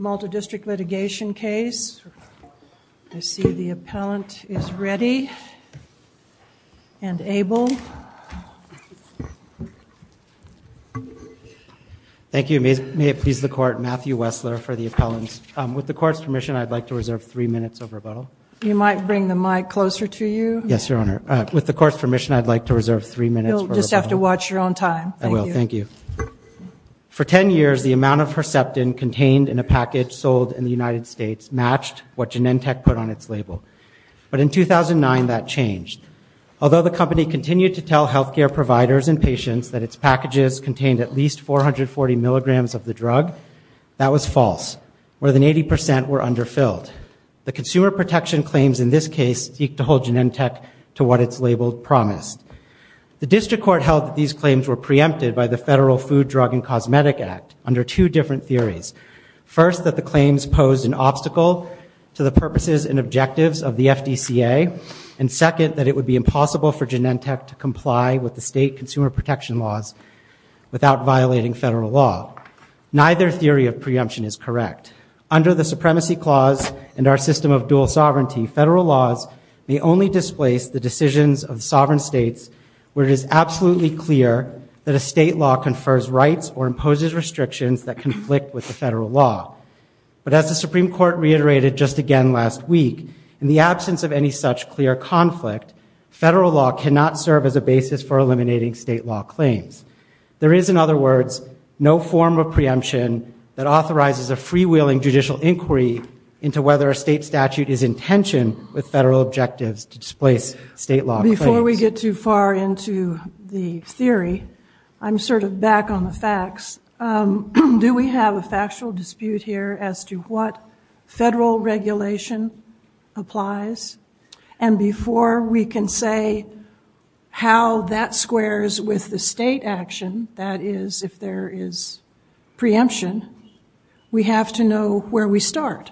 Multidistrict litigation case. I see the appellant is ready and able. Thank you. May it please the court, Matthew Wessler for the appellant. With the court's permission, I'd like to reserve three minutes of rebuttal. You might bring the mic closer to you. Yes, Your Honor. With the court's permission, I'd like to reserve three minutes. You'll just have to watch your own time. I will. Thank you. For ten years, the amount of Herceptin contained in a package sold in the United States matched what Genentech put on its label. But in 2009, that changed. Although the company continued to tell health care providers and patients that its packages contained at least 440 milligrams of the drug, that was false. More than 80% were underfilled. The consumer protection claims in this case seek to hold Genentech to what its label promised. The district court held that these claims were preempted by the Federal Food, Drug, and Cosmetic Act under two different theories. First, that the claims posed an obstacle to the purposes and objectives of the FDCA, and second, that it would be impossible for Genentech to comply with the state consumer protection laws without violating federal law. Neither theory of preemption is correct. Under the Supremacy Clause and our system of dual sovereignty, federal laws may only displace the decisions of sovereign states where it is absolutely clear that a state law confers rights or imposes restrictions that conflict with the federal law. But as the Supreme Court reiterated just again last week, in the absence of any such clear conflict, federal law cannot serve as a basis for eliminating state law claims. There is, in other words, no form of preemption that authorizes a freewheeling judicial inquiry into whether a state statute is in tension with federal objectives to displace state law. Before we get too far into the theory, I'm sort of back on the facts. Do we have a factual dispute here as to what federal regulation applies? And before we can say how that squares with the state action, that is, if there is preemption, we have to know where we start.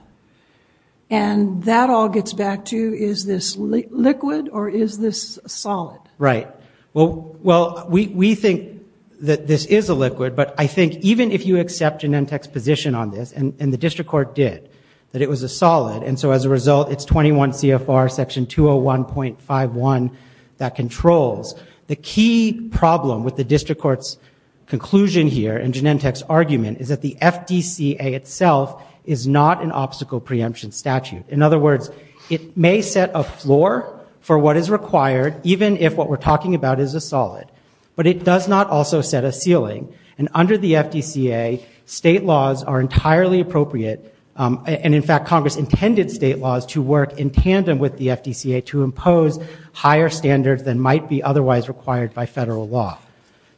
And that all gets back to, is this liquid or is this solid? Right, well, well, we think that this is a liquid, but I think even if you accept Genentech's position on this, and the district court did, that it was a solid, and so as a result, it's 21 CFR section 201.51 that controls. The key problem with the district court's conclusion here, and Genentech's argument, is that the FDCA itself is not an obstacle preemption statute. In other words, it may set a floor for what is required, even if what we're talking about is a solid, but it does not also set a ceiling. And under the FDCA, state laws are entirely appropriate. And in fact, Congress intended state laws to work in tandem with the FDCA to impose higher standards than might be otherwise required by federal law.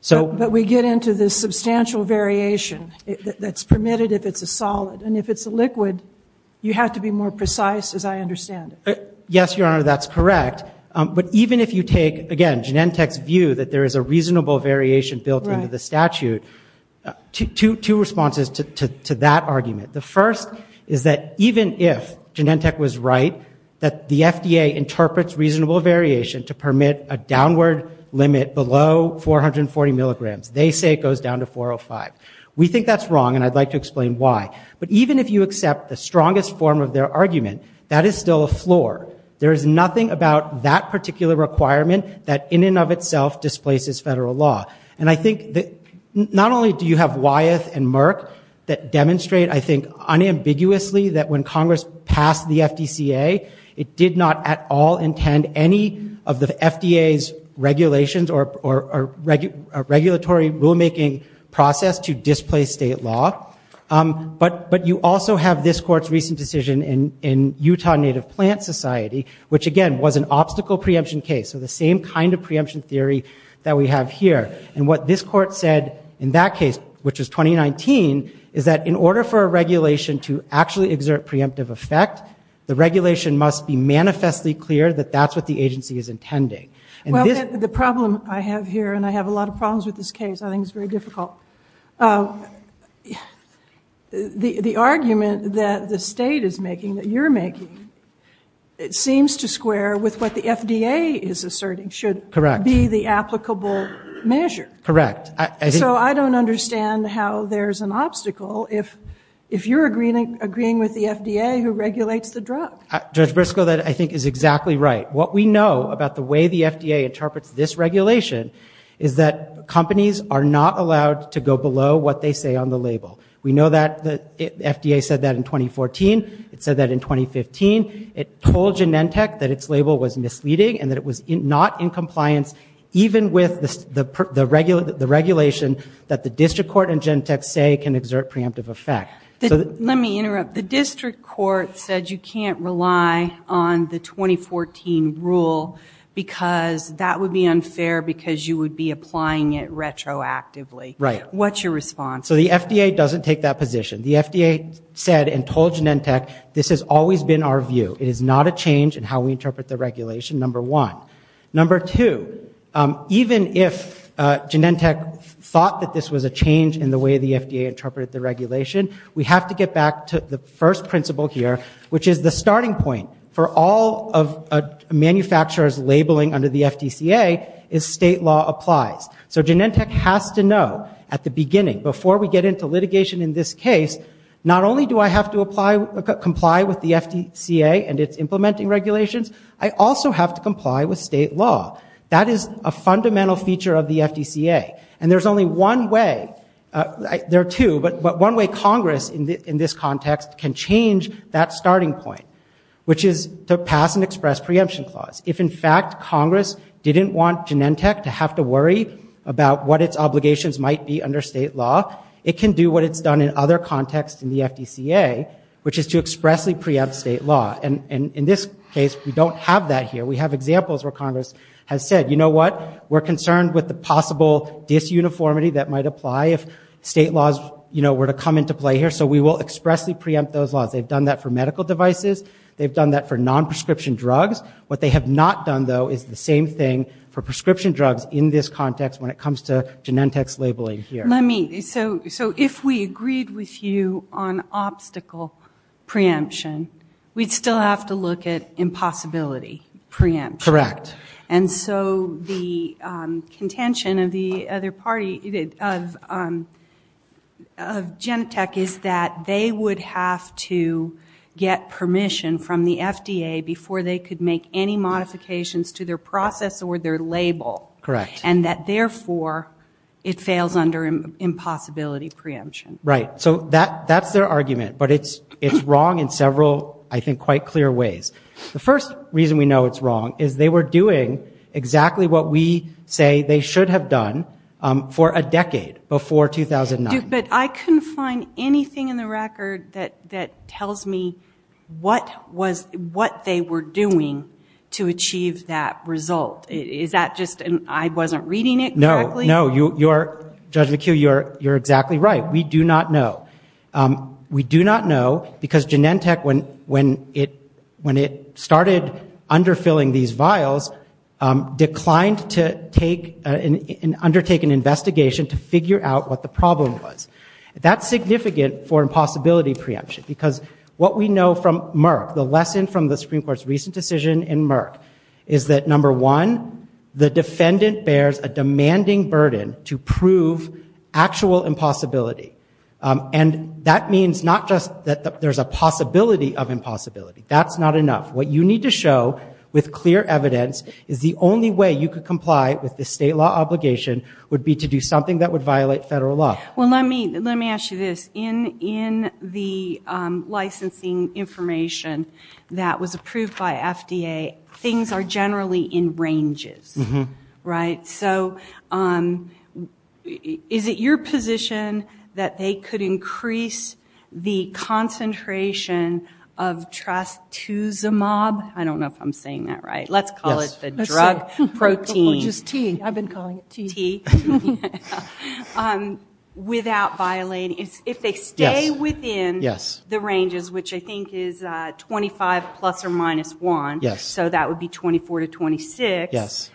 But we get into this substantial variation that's permitted if it's a solid. And if it's a liquid, you have to be more precise, as I understand it. Yes, Your Honor, that's correct. But even if you take, again, Genentech's view that there is a reasonable variation built into the statute, two responses to that argument. The first is that even if Genentech was right, that the FDA interprets reasonable variation to permit a downward limit below 440 milligrams. They say it goes down to 405. We think that's wrong, and I'd like to explain why. But even if you accept the strongest form of their argument, that is still a floor. There is nothing about that particular requirement that in and of itself displaces federal law. And I think that not only do you have Wyeth and Merck that demonstrate, I think, unambiguously that when Congress passed the FDCA, it did not at all intend any of the FDA's regulations or regulatory rulemaking process to displace state law. But you also have this court's recent decision in Utah Native Plant Society, which again was an obstacle preemption case. So the same kind of preemption theory that we have here. And what this court said in that case, which is 2019, is that in order for a regulation to actually exert preemptive effect, the regulation must be manifestly clear that that's what the agency is intending. Well, the problem I have here, and I have a lot of problems with this case, I think it's very difficult. The argument that the state is making, that you're making, it seems to square with what the FDA is asserting should be the applicable measure. Correct. So I don't understand how there's an obstacle if you're agreeing with the FDA who regulates the drug. Judge Briscoe, that I think is exactly right. What we know about the way the FDA interprets this regulation is that companies are not allowed to go below what they say on the label. We know that the FDA said that in 2014. It said that in 2015. It told Genentech that its label was misleading and that it was not in compliance even with the regulation that the district court and Genentech say can exert preemptive effect. Let me interrupt. The district court said you can't rely on the 2014 rule because that would be unfair because you would be applying it retroactively. Right. What's your response? So the FDA doesn't take that position. The FDA said and told Genentech this has always been our view. It is not a change in how we interpret the regulation, number one. Number two, even if Genentech thought that this was a change in the way the FDA interpreted the regulation, we have to get back to the first principle here, which is the starting point for all of manufacturers labeling under the FDCA is state law applies. So Genentech has to know at the beginning, before we get into litigation in this case, not only do I have to comply with the FDCA and its implementing regulations, I also have to comply with state law. That is a fundamental feature of the FDCA. And there's only one way, there are two, but one way Congress in this context can change that starting point, which is to pass an express preemption clause. If in fact Congress didn't want Genentech to have to worry about what its obligations might be under state law, it can do what it's done in other contexts in the FDCA, which is to expressly preempt state law. And in this case, we don't have that here. We have examples where Congress has said, you know what, we're concerned with the possible disuniformity that might apply if state laws, you know, were to come into play here. So we will expressly preempt those laws. They've done that for medical devices. They've done that for non-prescription drugs. What they have not done, though, is the same thing for prescription drugs in this context when it comes to Genentech's labeling here. So if we agreed with you on obstacle preemption, we'd still have to look at impossibility preemption. Correct. And so the contention of the other party, of Genentech, is that they would have to get permission from the FDA before they could make any modifications to their process or their label. Correct. And that therefore it fails under impossibility preemption. Right. So that that's their argument, but it's it's wrong in several, I think, quite clear ways. The first reason we know it's wrong is they were doing exactly what we say they should have done for a decade before 2009. But I couldn't find anything in the record that that tells me what was, what they were doing to achieve that result. Is that just, and I wasn't reading it? No, you're, Judge McHugh, you're exactly right. We do not know. We do not know because Genentech, when it started underfilling these vials, declined to take and undertake an investigation to figure out what the problem was. That's significant for impossibility preemption, because what we know from Merck, the lesson from the Supreme Court's recent decision in Merck, is that, number one, the defendant bears a demanding burden to prove actual impossibility. And that means not just that there's a possibility of impossibility. That's not enough. What you need to show, with clear evidence, is the only way you could comply with the state law obligation would be to do something that would violate federal law. Well, let me, let me ask you this. In, in the licensing information that was approved by FDA, things are generally in ranges, right? So, is it your position that they could increase the concentration of trastuzumab? I don't know if I'm saying that right. Let's call it the drug protein. Just T. I've been calling it T. Without violating, if they stay within the ranges, which I think is 25 plus or minus 1. Yes. So, that would be 24 to 26. Yes.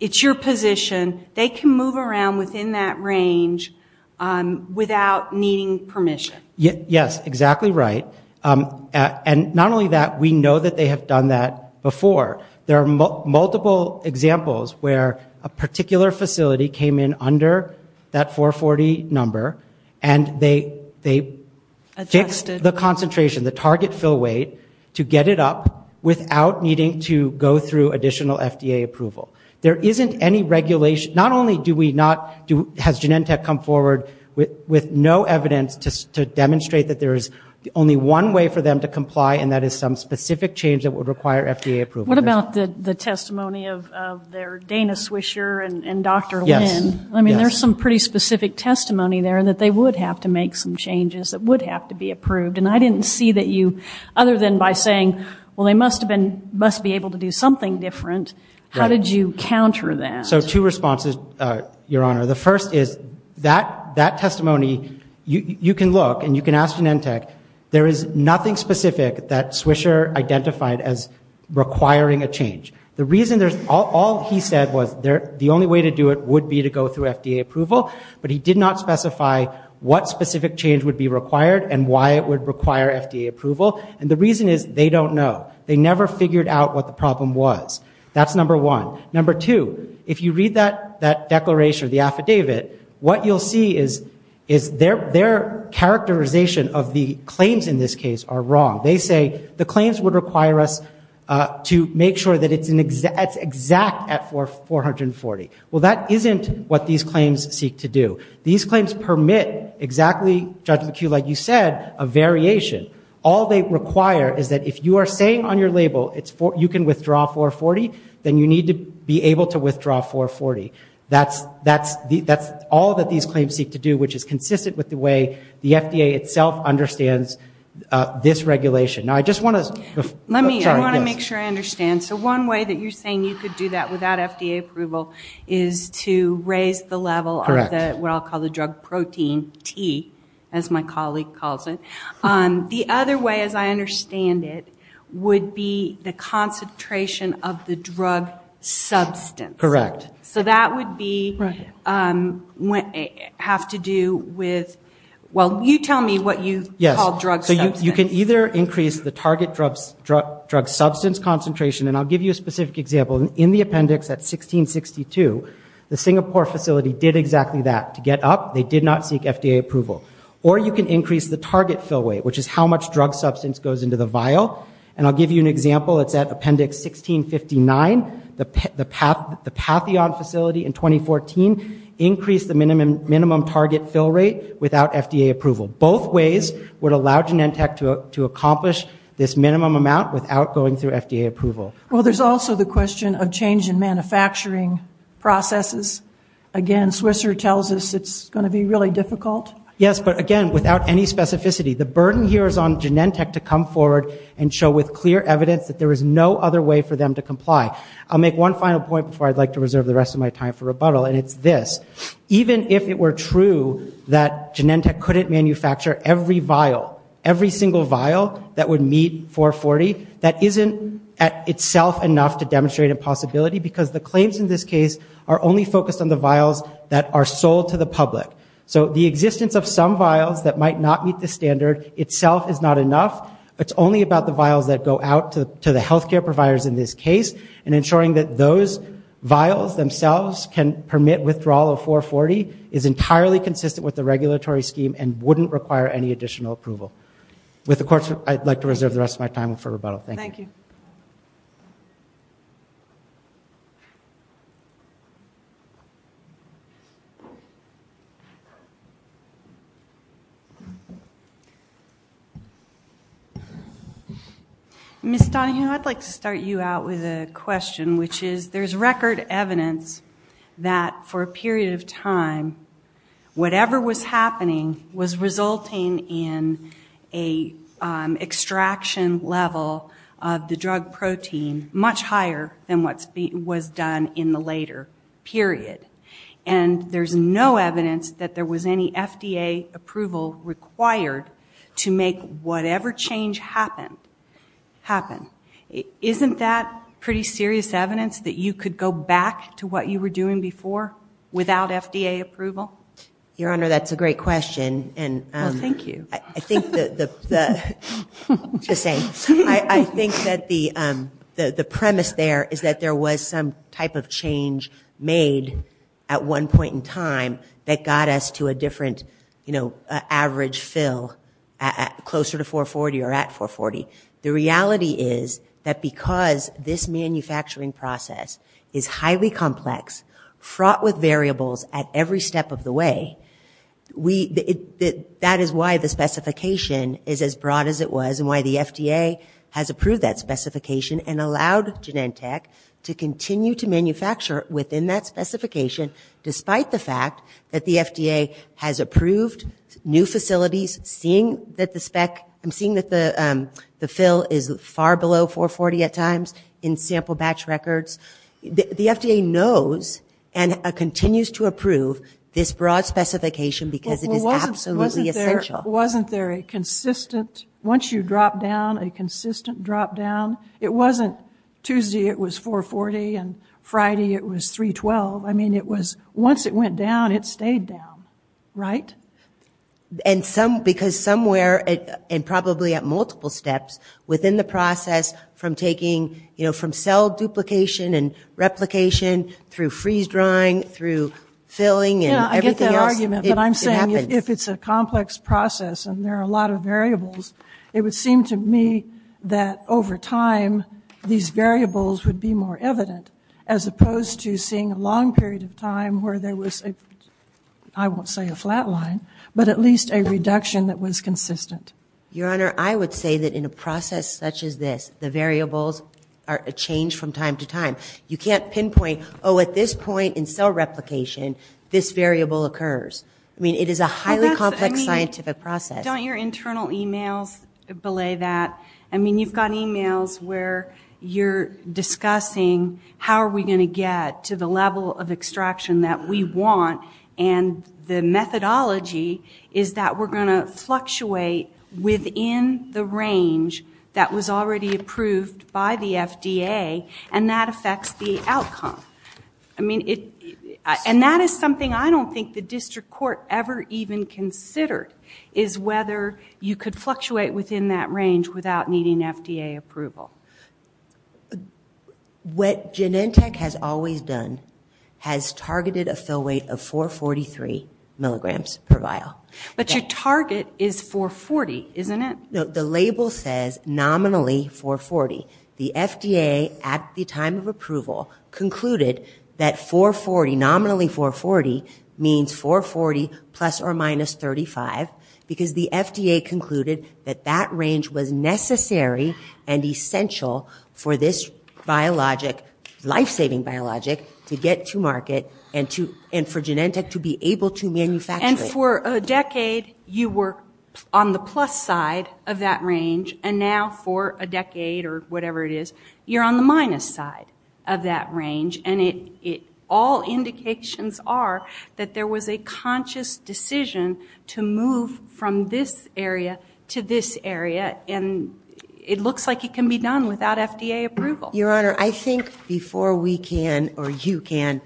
It's your position. They can move around within that range without needing permission. Yes, exactly right. And not only that, we know that they have done that before. There are multiple examples where a particular facility came in under that 440 number, and they, they increased the concentration, the target fill weight, to get it up without needing to go through additional FDA approval. There isn't any regulation. Not only do we not do, has Genentech come forward with, with no evidence to demonstrate that there is only one way for them to comply, and that is some specific change that would require FDA approval. What about the, the testimony of their Dana Swisher and, and Dr. Lynn? Yes. I mean, there's some pretty specific testimony there, and that they would have to make some changes that would have to be approved. And I didn't see that you, other than by saying, well, they must have been, must be able to do something different. How did you counter that? So, two responses, Your Honor. The first is, that, that testimony, you, you can look, and you can ask Genentech. There is nothing specific that Swisher identified as requiring a change. The reason there's, all he said was there, the only way to do it would be to go through FDA approval, but he did not specify what specific change would be required, and why it would require FDA approval. And the reason is, they don't know. They never figured out what the problem was. That's number one. Number two, if you read that, that declaration, the affidavit, what you'll see is, is their, their characterization of the claims in this case are wrong. They say the claims would require us to make sure that it's an exact, it's exact at 440. Well, that isn't what these claims seek to do. These claims permit exactly, Judge McHugh, like you said, a variation. All they require is that if you are saying on your label, it's 4, you can withdraw 440, then you need to be able to withdraw 440. That's, that's the, that's all that these claims seek to do, which is consistent with the way the FDA itself understands this regulation. Now, I just want to, Let me, I want to make sure I understand. So, one way that you're saying you could do that without FDA approval is to raise the level of the, what I'll call the drug protein, T, as my colleague calls it. The other way, as I understand it, would be the concentration of the drug substance. Correct. So, that would be, have to do with, well, you tell me what you call drug substance. So, you can either increase the target drug substance concentration, and I'll give you a specific example. In the appendix at 1662, the Singapore facility did exactly that. To get up, they did not seek FDA approval. Or, you can increase the target fill weight, which is how much drug substance goes into the vial. And, I'll give you an example. It's at appendix 1659. The pathion facility in 2014 increased the minimum target fill rate without FDA approval. Both ways would allow Genentech to accomplish this minimum amount without going through FDA approval. Well, there's also the question of change in manufacturing processes. Again, Swisser tells us it's going to be really difficult. Yes, but again, without any specificity, the burden here is on Genentech to come forward and show with clear evidence that there is no other way for them to comply. I'll make one final point before I'd like to reserve the rest of my time for rebuttal, and it's this. Even if it were true that Genentech couldn't manufacture every vial, every single vial that would meet 440, that isn't, at itself, enough to demonstrate a possibility, because the claims in this case are only focused on the vials that are sold to the public. So, the existence of some vials that might not meet the standard itself is not enough. It's only about the vials that go out to the health care providers in this case, and ensuring that those vials themselves can permit withdrawal of 440 is entirely consistent with the regulatory scheme and wouldn't require any additional approval. With the courts, I'd like to reserve the rest of my time for rebuttal. Thank you. Ms. Donohue, I'd like to start you out with a question, which is, there's record evidence that, for a period of time, whatever was happening was resulting in a extraction level of the drug protein much higher than what was done in the later period, and there's no evidence that there was any FDA approval required to make whatever change happened happen. Isn't that pretty serious evidence that you could go back to what you were doing before, without FDA approval? Your Honor, that's a great question, and thank you. I think that the just saying, I think that the just saying, I think that the average fill closer to 440 or at 440, the reality is that because this manufacturing process is highly complex, fraught with variables at every step of the way, that is why the specification is as broad as it was, and why the FDA has approved that specification and allowed Genentech to continue to manufacture within that specification, despite the fact that the FDA has approved new facilities, seeing that the spec, I'm seeing that the fill is far below 440 at times in sample batch records. The FDA knows and continues to approve this broad specification because it is absolutely essential. Wasn't there a consistent, once you drop down, a consistent drop down? It wasn't Tuesday it was 440, and Friday it was 312. I mean it was, once it went down, it stayed down, right? And some, because somewhere, and probably at multiple steps within the process, from taking, you know, from cell duplication and replication, through freeze-drying, through filling, and everything else, it happens. If it's a complex process, and there are a lot of variables, it would seem to me that over time these variables would be more evident, as opposed to seeing a long period of time where there was a, I won't say a flat line, but at least a reduction that was consistent. Your Honor, I would say that in a process such as this, the variables are a change from time to time. You can't pinpoint, oh at this point in cell replication, this variable occurs. I mean, it is a highly complex scientific process. Don't your internal emails belay that? I mean, you've got emails where you're discussing, how are we going to get to the level of extraction that we want? And the methodology is that we're going to fluctuate within the range that was already approved by the FDA, and that affects the outcome. I mean, it, and that is something I don't think the district court ever even considered, is whether you could fluctuate within that range without needing FDA approval. What Genentech has always done has targeted a fill weight of 443 milligrams per vial. But your target is 440, isn't it? No, the label says nominally 440. The FDA, at the time of approval, concluded that 440, nominally 440, means 440 plus or minus 435, because the FDA concluded that that range was necessary and essential for this biologic, life-saving biologic, to get to market and for Genentech to be able to manufacture it. And for a decade, you were on the plus side of that range, and now for a decade or whatever it is, you're on the minus side of that range. And it, it, all indications are that there was a conscious decision to move from this area to this area, and it looks like it can be done without FDA approval. Your Honor, I think before we can, or you can,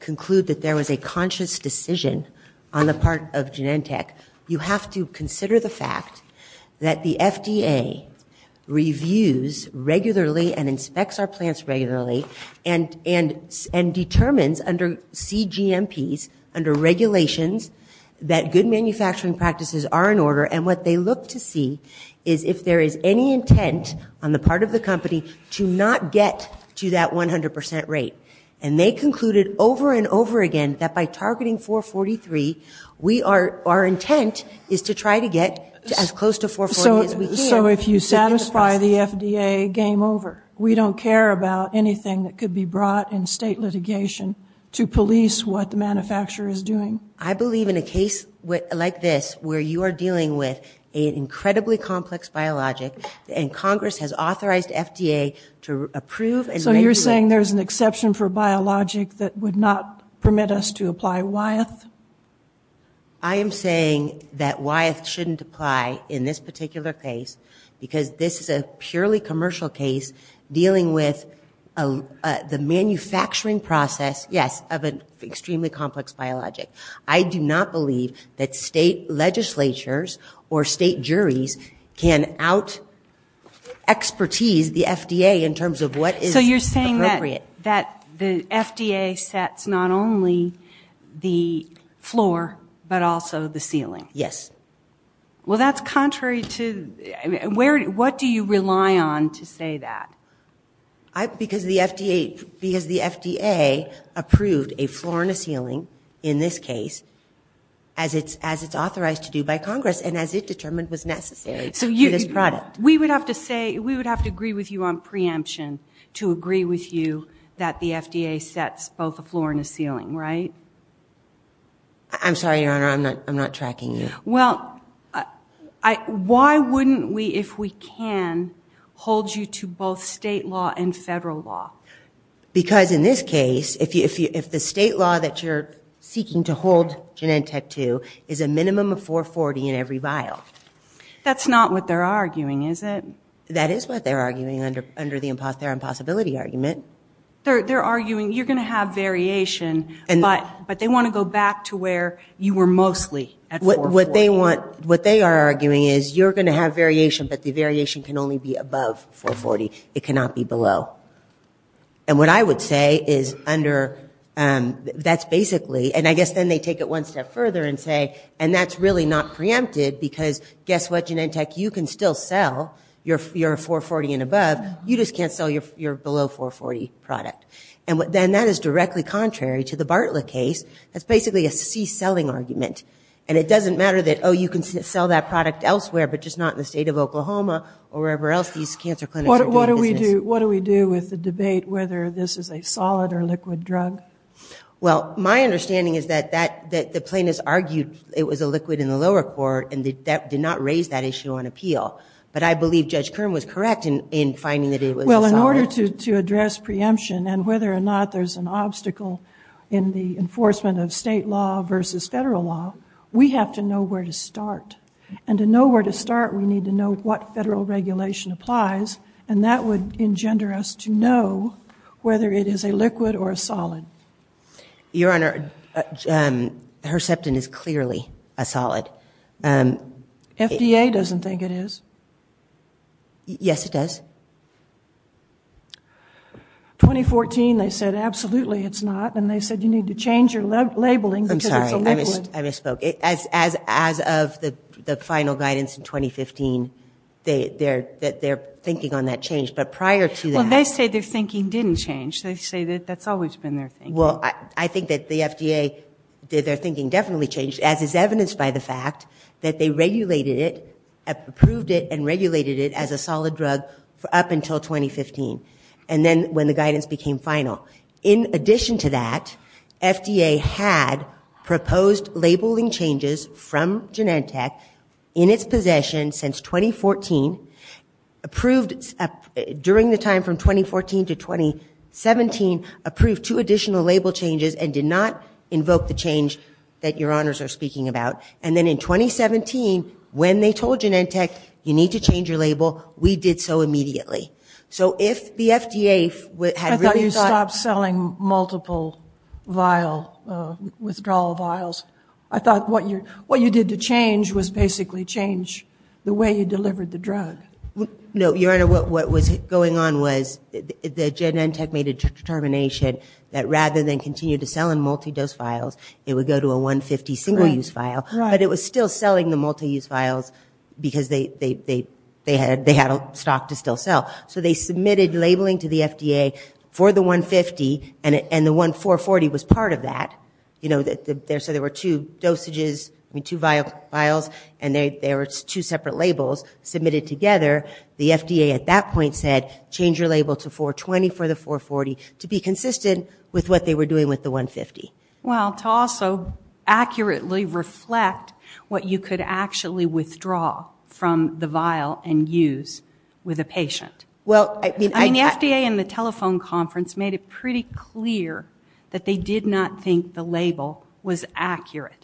conclude that there was a conscious decision on the part of Genentech, you have to consider the fact that the FDA reviews regularly and inspects our plants regularly and, and, and under CGMPs, under regulations, that good manufacturing practices are in order, and what they look to see is if there is any intent on the part of the company to not get to that 100% rate. And they concluded over and over again that by targeting 443, we are, our intent is to try to get as close to 440 as we can. So, so if you satisfy the FDA, game over. We don't care about anything that could be brought in state litigation to police what the manufacturer is doing. I believe in a case with, like this, where you are dealing with an incredibly complex biologic, and Congress has authorized FDA to approve. So you're saying there's an exception for biologic that would not permit us to apply Wyeth? I am saying that Wyeth shouldn't apply in this particular case, because this is a purely commercial case dealing with the manufacturing process, yes, of an extremely complex biologic. I do not believe that state legislatures or state juries can out expertise the FDA in terms of what is appropriate. So you're saying that, that the FDA sets not only the floor, but also the ceiling? Yes. Well, that's contrary to, where, what do you rely on to say that? Because the FDA, because the FDA approved a floor and a ceiling in this case, as it's, as it's authorized to do by Congress, and as it determined was necessary for this product. We would have to say, we would have to agree with you on preemption to agree with you that the FDA sets both a floor and a ceiling, right? I'm sorry, Your Honor, I'm not, I'm not tracking you. Well, I, why wouldn't we, if we can, hold you to both state law and federal law? Because in this case, if you, if you, if the state law that you're seeking to hold Genentech to is a minimum of 440 in every vial. That's not what they're arguing, is it? That is what they're arguing under, under the imposs, their impossibility argument. They're, they're arguing you're going to have variation, and, but, but they want to go back to where you were mostly at 440. What, what they want, what they are arguing is you're going to have variation, but the variation can only be above 440. It cannot be below. And what I would say is under, that's basically, and I guess then they take it one step further and say, and that's really not preempted because guess what, Genentech, you can still sell your, your 440 and above, you just can't sell your, your below 440 product. And what, then that is directly contrary to the Bartlett case. That's basically a C selling argument, and it doesn't matter that, oh, you can sell that product elsewhere, but just not in the state of Oklahoma or wherever else these cancer clinics are doing business. What, what do we do, what do we do with the debate whether this is a solid or liquid drug? Well, my understanding is that, that, that the plaintiffs argued it was a liquid in the lower court, and that did not raise that issue on appeal. But I believe Judge Kern was correct in, in finding that it was a solid. Well, in order to, to address preemption and whether or not there's an obstacle in the enforcement of state law versus federal law, we have to know where to start. And to know where to start, we need to know what federal regulation applies, and that would engender us to know whether it is a liquid or a solid. Your Honor, Herceptin is clearly a solid. FDA doesn't think it is. Yes, it does. 2014, they said absolutely it's not, and they said you need to change your labeling. I'm sorry, I misspoke. As, as, as of the, the final guidance in 2015, they, they're, that they're thinking on that change. But prior to that... Well, they say their thinking didn't change. They say that that's always been their thinking. Well, I, I think that the FDA, that their thinking definitely changed, as is evidenced by the fact that they regulated it, approved it, and regulated it as a solid drug for up until 2015, and then when the guidance became final. In addition to that, FDA had proposed labeling changes from Genentech in its possession since 2014, approved during the time from 2014 to 2017, approved two additional label changes, and did not invoke the change that Your Honors are speaking about. And then in 2017, when they told Genentech, you need to change your label, we did so immediately. So if the FDA had... I thought you stopped selling multiple vial, withdrawal vials. I thought what you, what you did to change was basically change the way you delivered the drug. No, Your Honor, what was going on was the Genentech made a determination that rather than continue to sell in multi-dose vials, it would go to a 150 single-use vial. But it was still selling the multi-use vials because they, they, they, they had, they had a stock to still sell. So they submitted labeling to the FDA for the 150, and it, and the one 440 was part of that. You know that there, so there were two dosages, I mean two vials, and they, there were two separate labels submitted together. The FDA at that point said, change your label to 420 for the 440 to be consistent with what they were doing with the 150. Well, to also accurately reflect what you could actually withdraw from the vial and use with a patient. Well, I mean, the FDA and the telephone conference made it pretty clear that they did not think the label was subjective.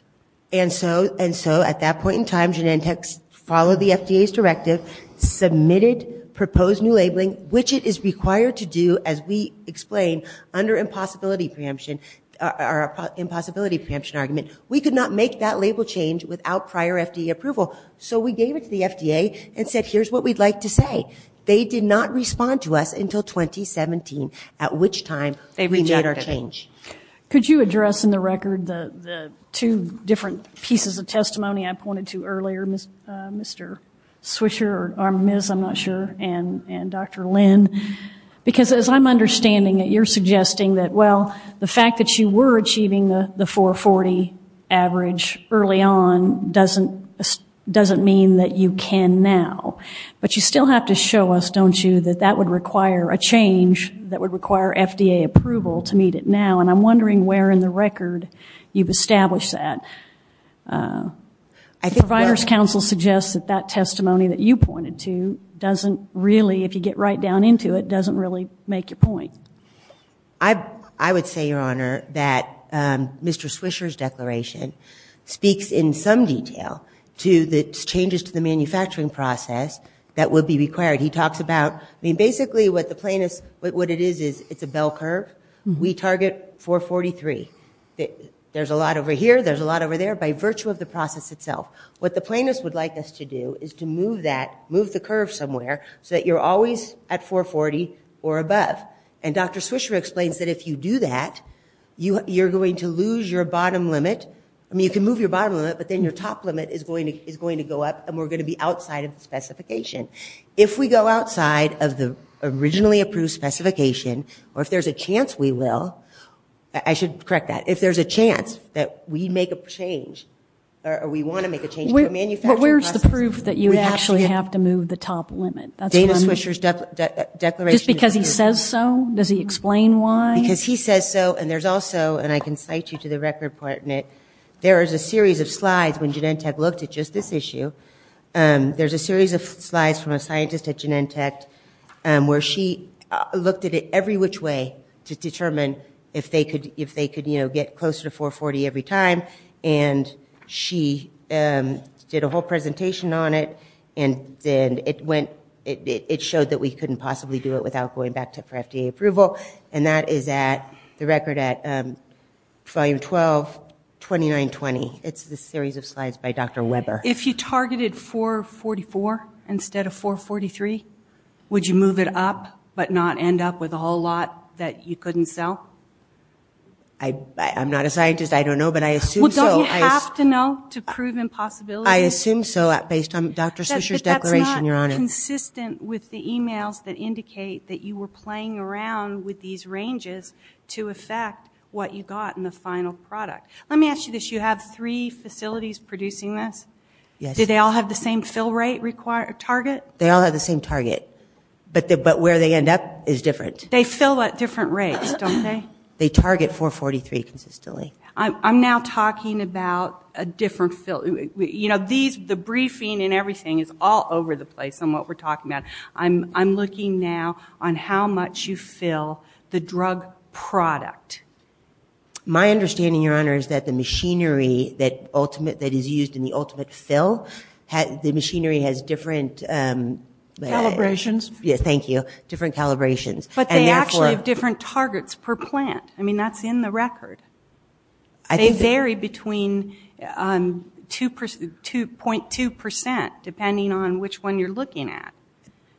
Submitted, proposed new labeling, which it is required to do as we explain under impossibility preemption, impossibility preemption argument. We could not make that label change without prior FDA approval. So we gave it to the FDA and said, here's what we'd like to say. They did not respond to us until 2017, at which time they made our change. Could you address in the record the two different pieces of testimony I pointed to earlier, Mr. Swisher, or Ms., I'm not sure, and, and Dr. Lynn? Because as I'm understanding it, you're suggesting that, well, the fact that you were achieving the 440 average early on doesn't, doesn't mean that you can now. But you still have to show us, don't you, that that would require a change that would require FDA approval to meet it now, and I'm wondering where in the record you've established that. I think providers counsel suggests that that testimony that you pointed to doesn't really, if you get right down into it, doesn't really make your point. I would say, Your Honor, that Mr. Swisher's declaration speaks in some detail to the changes to the manufacturing process that would be required. He talks about, I mean, basically what the plaintiffs, what it is, is it's a bell curve. We target 443. There's a lot over here, there's a lot over there, by virtue of the process itself. What the plaintiffs would like us to do is to move that, move the curve somewhere, so that you're always at 440 or above, and Dr. Swisher explains that if you do that, you, you're going to lose your bottom limit. I mean, you can move your bottom limit, but then your top limit is going to, is going to go up, and we're going to be outside of the specification. If we go outside of the originally approved specification, or if there's a chance we will, I should correct that, if there's a chance that we make a change, or we want to make a change to a manufacturing process. But where's the proof that you actually have to move the top limit? That's one. Dana Swisher's declaration. Just because he says so, does he explain why? Because he says so, and there's also, and I can cite you to the record part in it, there is a series of slides when Genentech looked at just this issue, there's a series of slides from a scientist at Genentech where she looked at it every which way to determine if they could, if they could, you know, get closer to 440 every time, and she did a whole presentation on it, and then it went, it showed that we couldn't possibly do it without going back to for FDA approval, and that is at the record at volume 122920. It's the series of slides by Dr. Weber. If you targeted 444 instead of 443, would you move it up, but not end up with a whole lot that you couldn't sell? I'm not a scientist, I don't know, but I assume so. Well, don't you have to know to prove impossibility? I assume so, based on Dr. Swisher's declaration, Your Honor. That's not consistent with the emails that indicate that you were playing around with these ranges to affect what you got in the final product. Let me ask you this, you have three facilities producing this? Yes. Do they all have the same fill rate required, target? They all have the same target, but where they end up is different. They fill at different rates, don't they? They target 443 consistently. I'm now talking about a different fill, you know, these, the briefing and everything is all over the place on what we're talking about. I'm looking now on how much you fill the drug product. My understanding, Your Honor, is that the machinery that ultimate, that is used in the ultimate fill, the machinery has different Calibrations. Yes, thank you, different calibrations. But they actually have different targets per plant. I mean, that's in the record. They vary between 2.2 percent depending on which one you're looking at.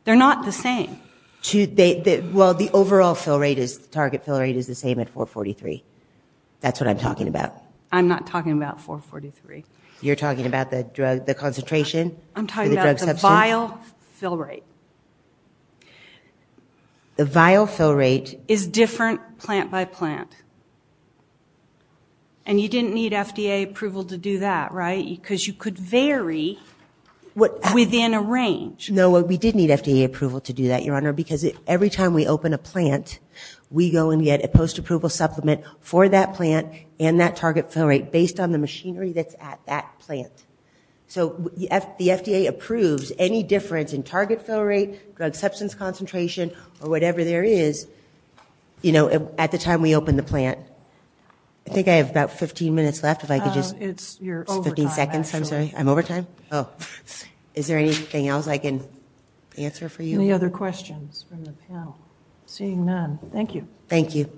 They're not the same. Well, the overall fill rate is, the target fill rate is the same at 443. That's what I'm talking about. I'm not talking about 443. You're talking about the drug, the concentration? I'm talking about the vial fill rate. The vial fill rate is different plant by plant. And you didn't need FDA approval to do that, right? Because you could vary within a range. No, we did need FDA approval to do that, Your Honor, because every time we open a plant, we go and get a post-approval supplement for that plant and that target fill rate based on the machinery that's at that plant. So the FDA approves any difference in target fill rate, drug substance concentration, or whatever there is, you know, at the time we open the plant. I think I have about 15 minutes left, if I could just, it's 15 seconds. I'm sorry. I'm over time. Oh, is there anything else I can answer for you? Any other questions from the panel? Seeing none, thank you. Thank you.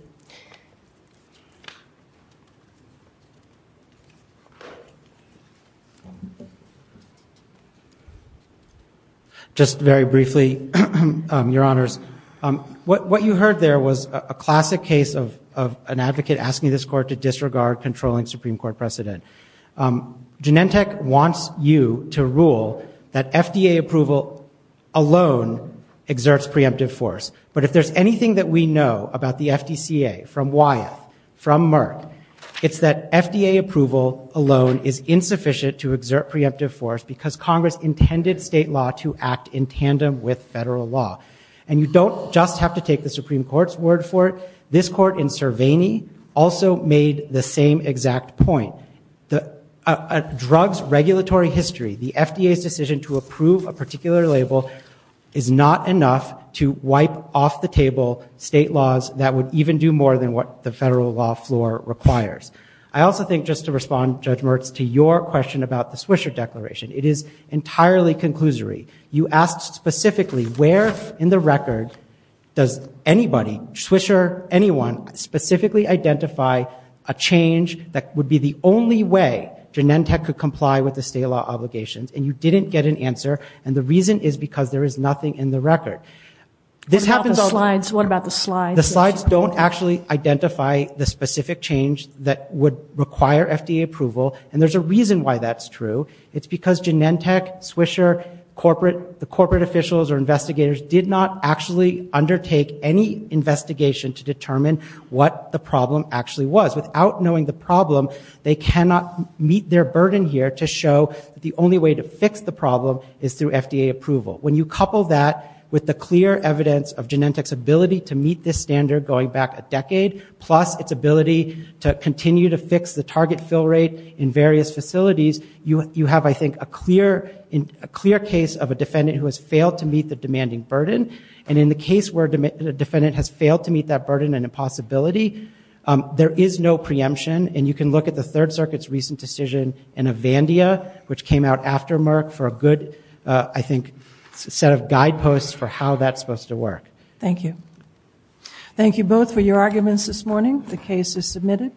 Just very briefly, Your Honors, what you heard there was a classic case of an advocate asking this court to disregard controlling Supreme Court precedent. Genentech wants you to rule that FDA approval alone exerts preemptive force. But if there's anything that we know about the FDCA from Wyeth, from Merck, it's that FDA approval alone is insufficient to exert preemptive force because Congress intended state law to act in You don't just have to take the Supreme Court's word for it. This court in Cervini also made the same exact point. A drug's regulatory history, the FDA's decision to approve a particular label, is not enough to wipe off the table state laws that would even do more than what the federal law floor requires. I also think, just to respond, Judge Merck, to your question about the Swisher Declaration, it is entirely conclusory. You asked specifically where in the record does anybody, Swisher, anyone, specifically identify a change that would be the only way Genentech could comply with the state law obligations, and you didn't get an answer. And the reason is because there is nothing in the record. What about the slides? The slides don't actually identify the specific change that would require FDA approval, and there's a reason why that's true. It's because Genentech, Swisher, corporate, the corporate officials or investigators did not actually undertake any investigation to determine what the problem actually was. Without knowing the problem, they cannot meet their burden here to show the only way to fix the problem is through FDA approval. When you couple that with the clear evidence of Genentech's ability to meet this standard going back a decade, plus its ability to continue to fix the target fill rate in various facilities, you have, I think, a clear case of a defendant who has failed to meet the demanding burden. And in the case where the defendant has failed to meet that burden and impossibility, there is no preemption. And you can look at the Third Circuit's recent decision in Avandia, which came out after Merck for a good, I think, set of guideposts for how that's supposed to work. Thank you. Thank you both for your arguments this morning. The case is submitted.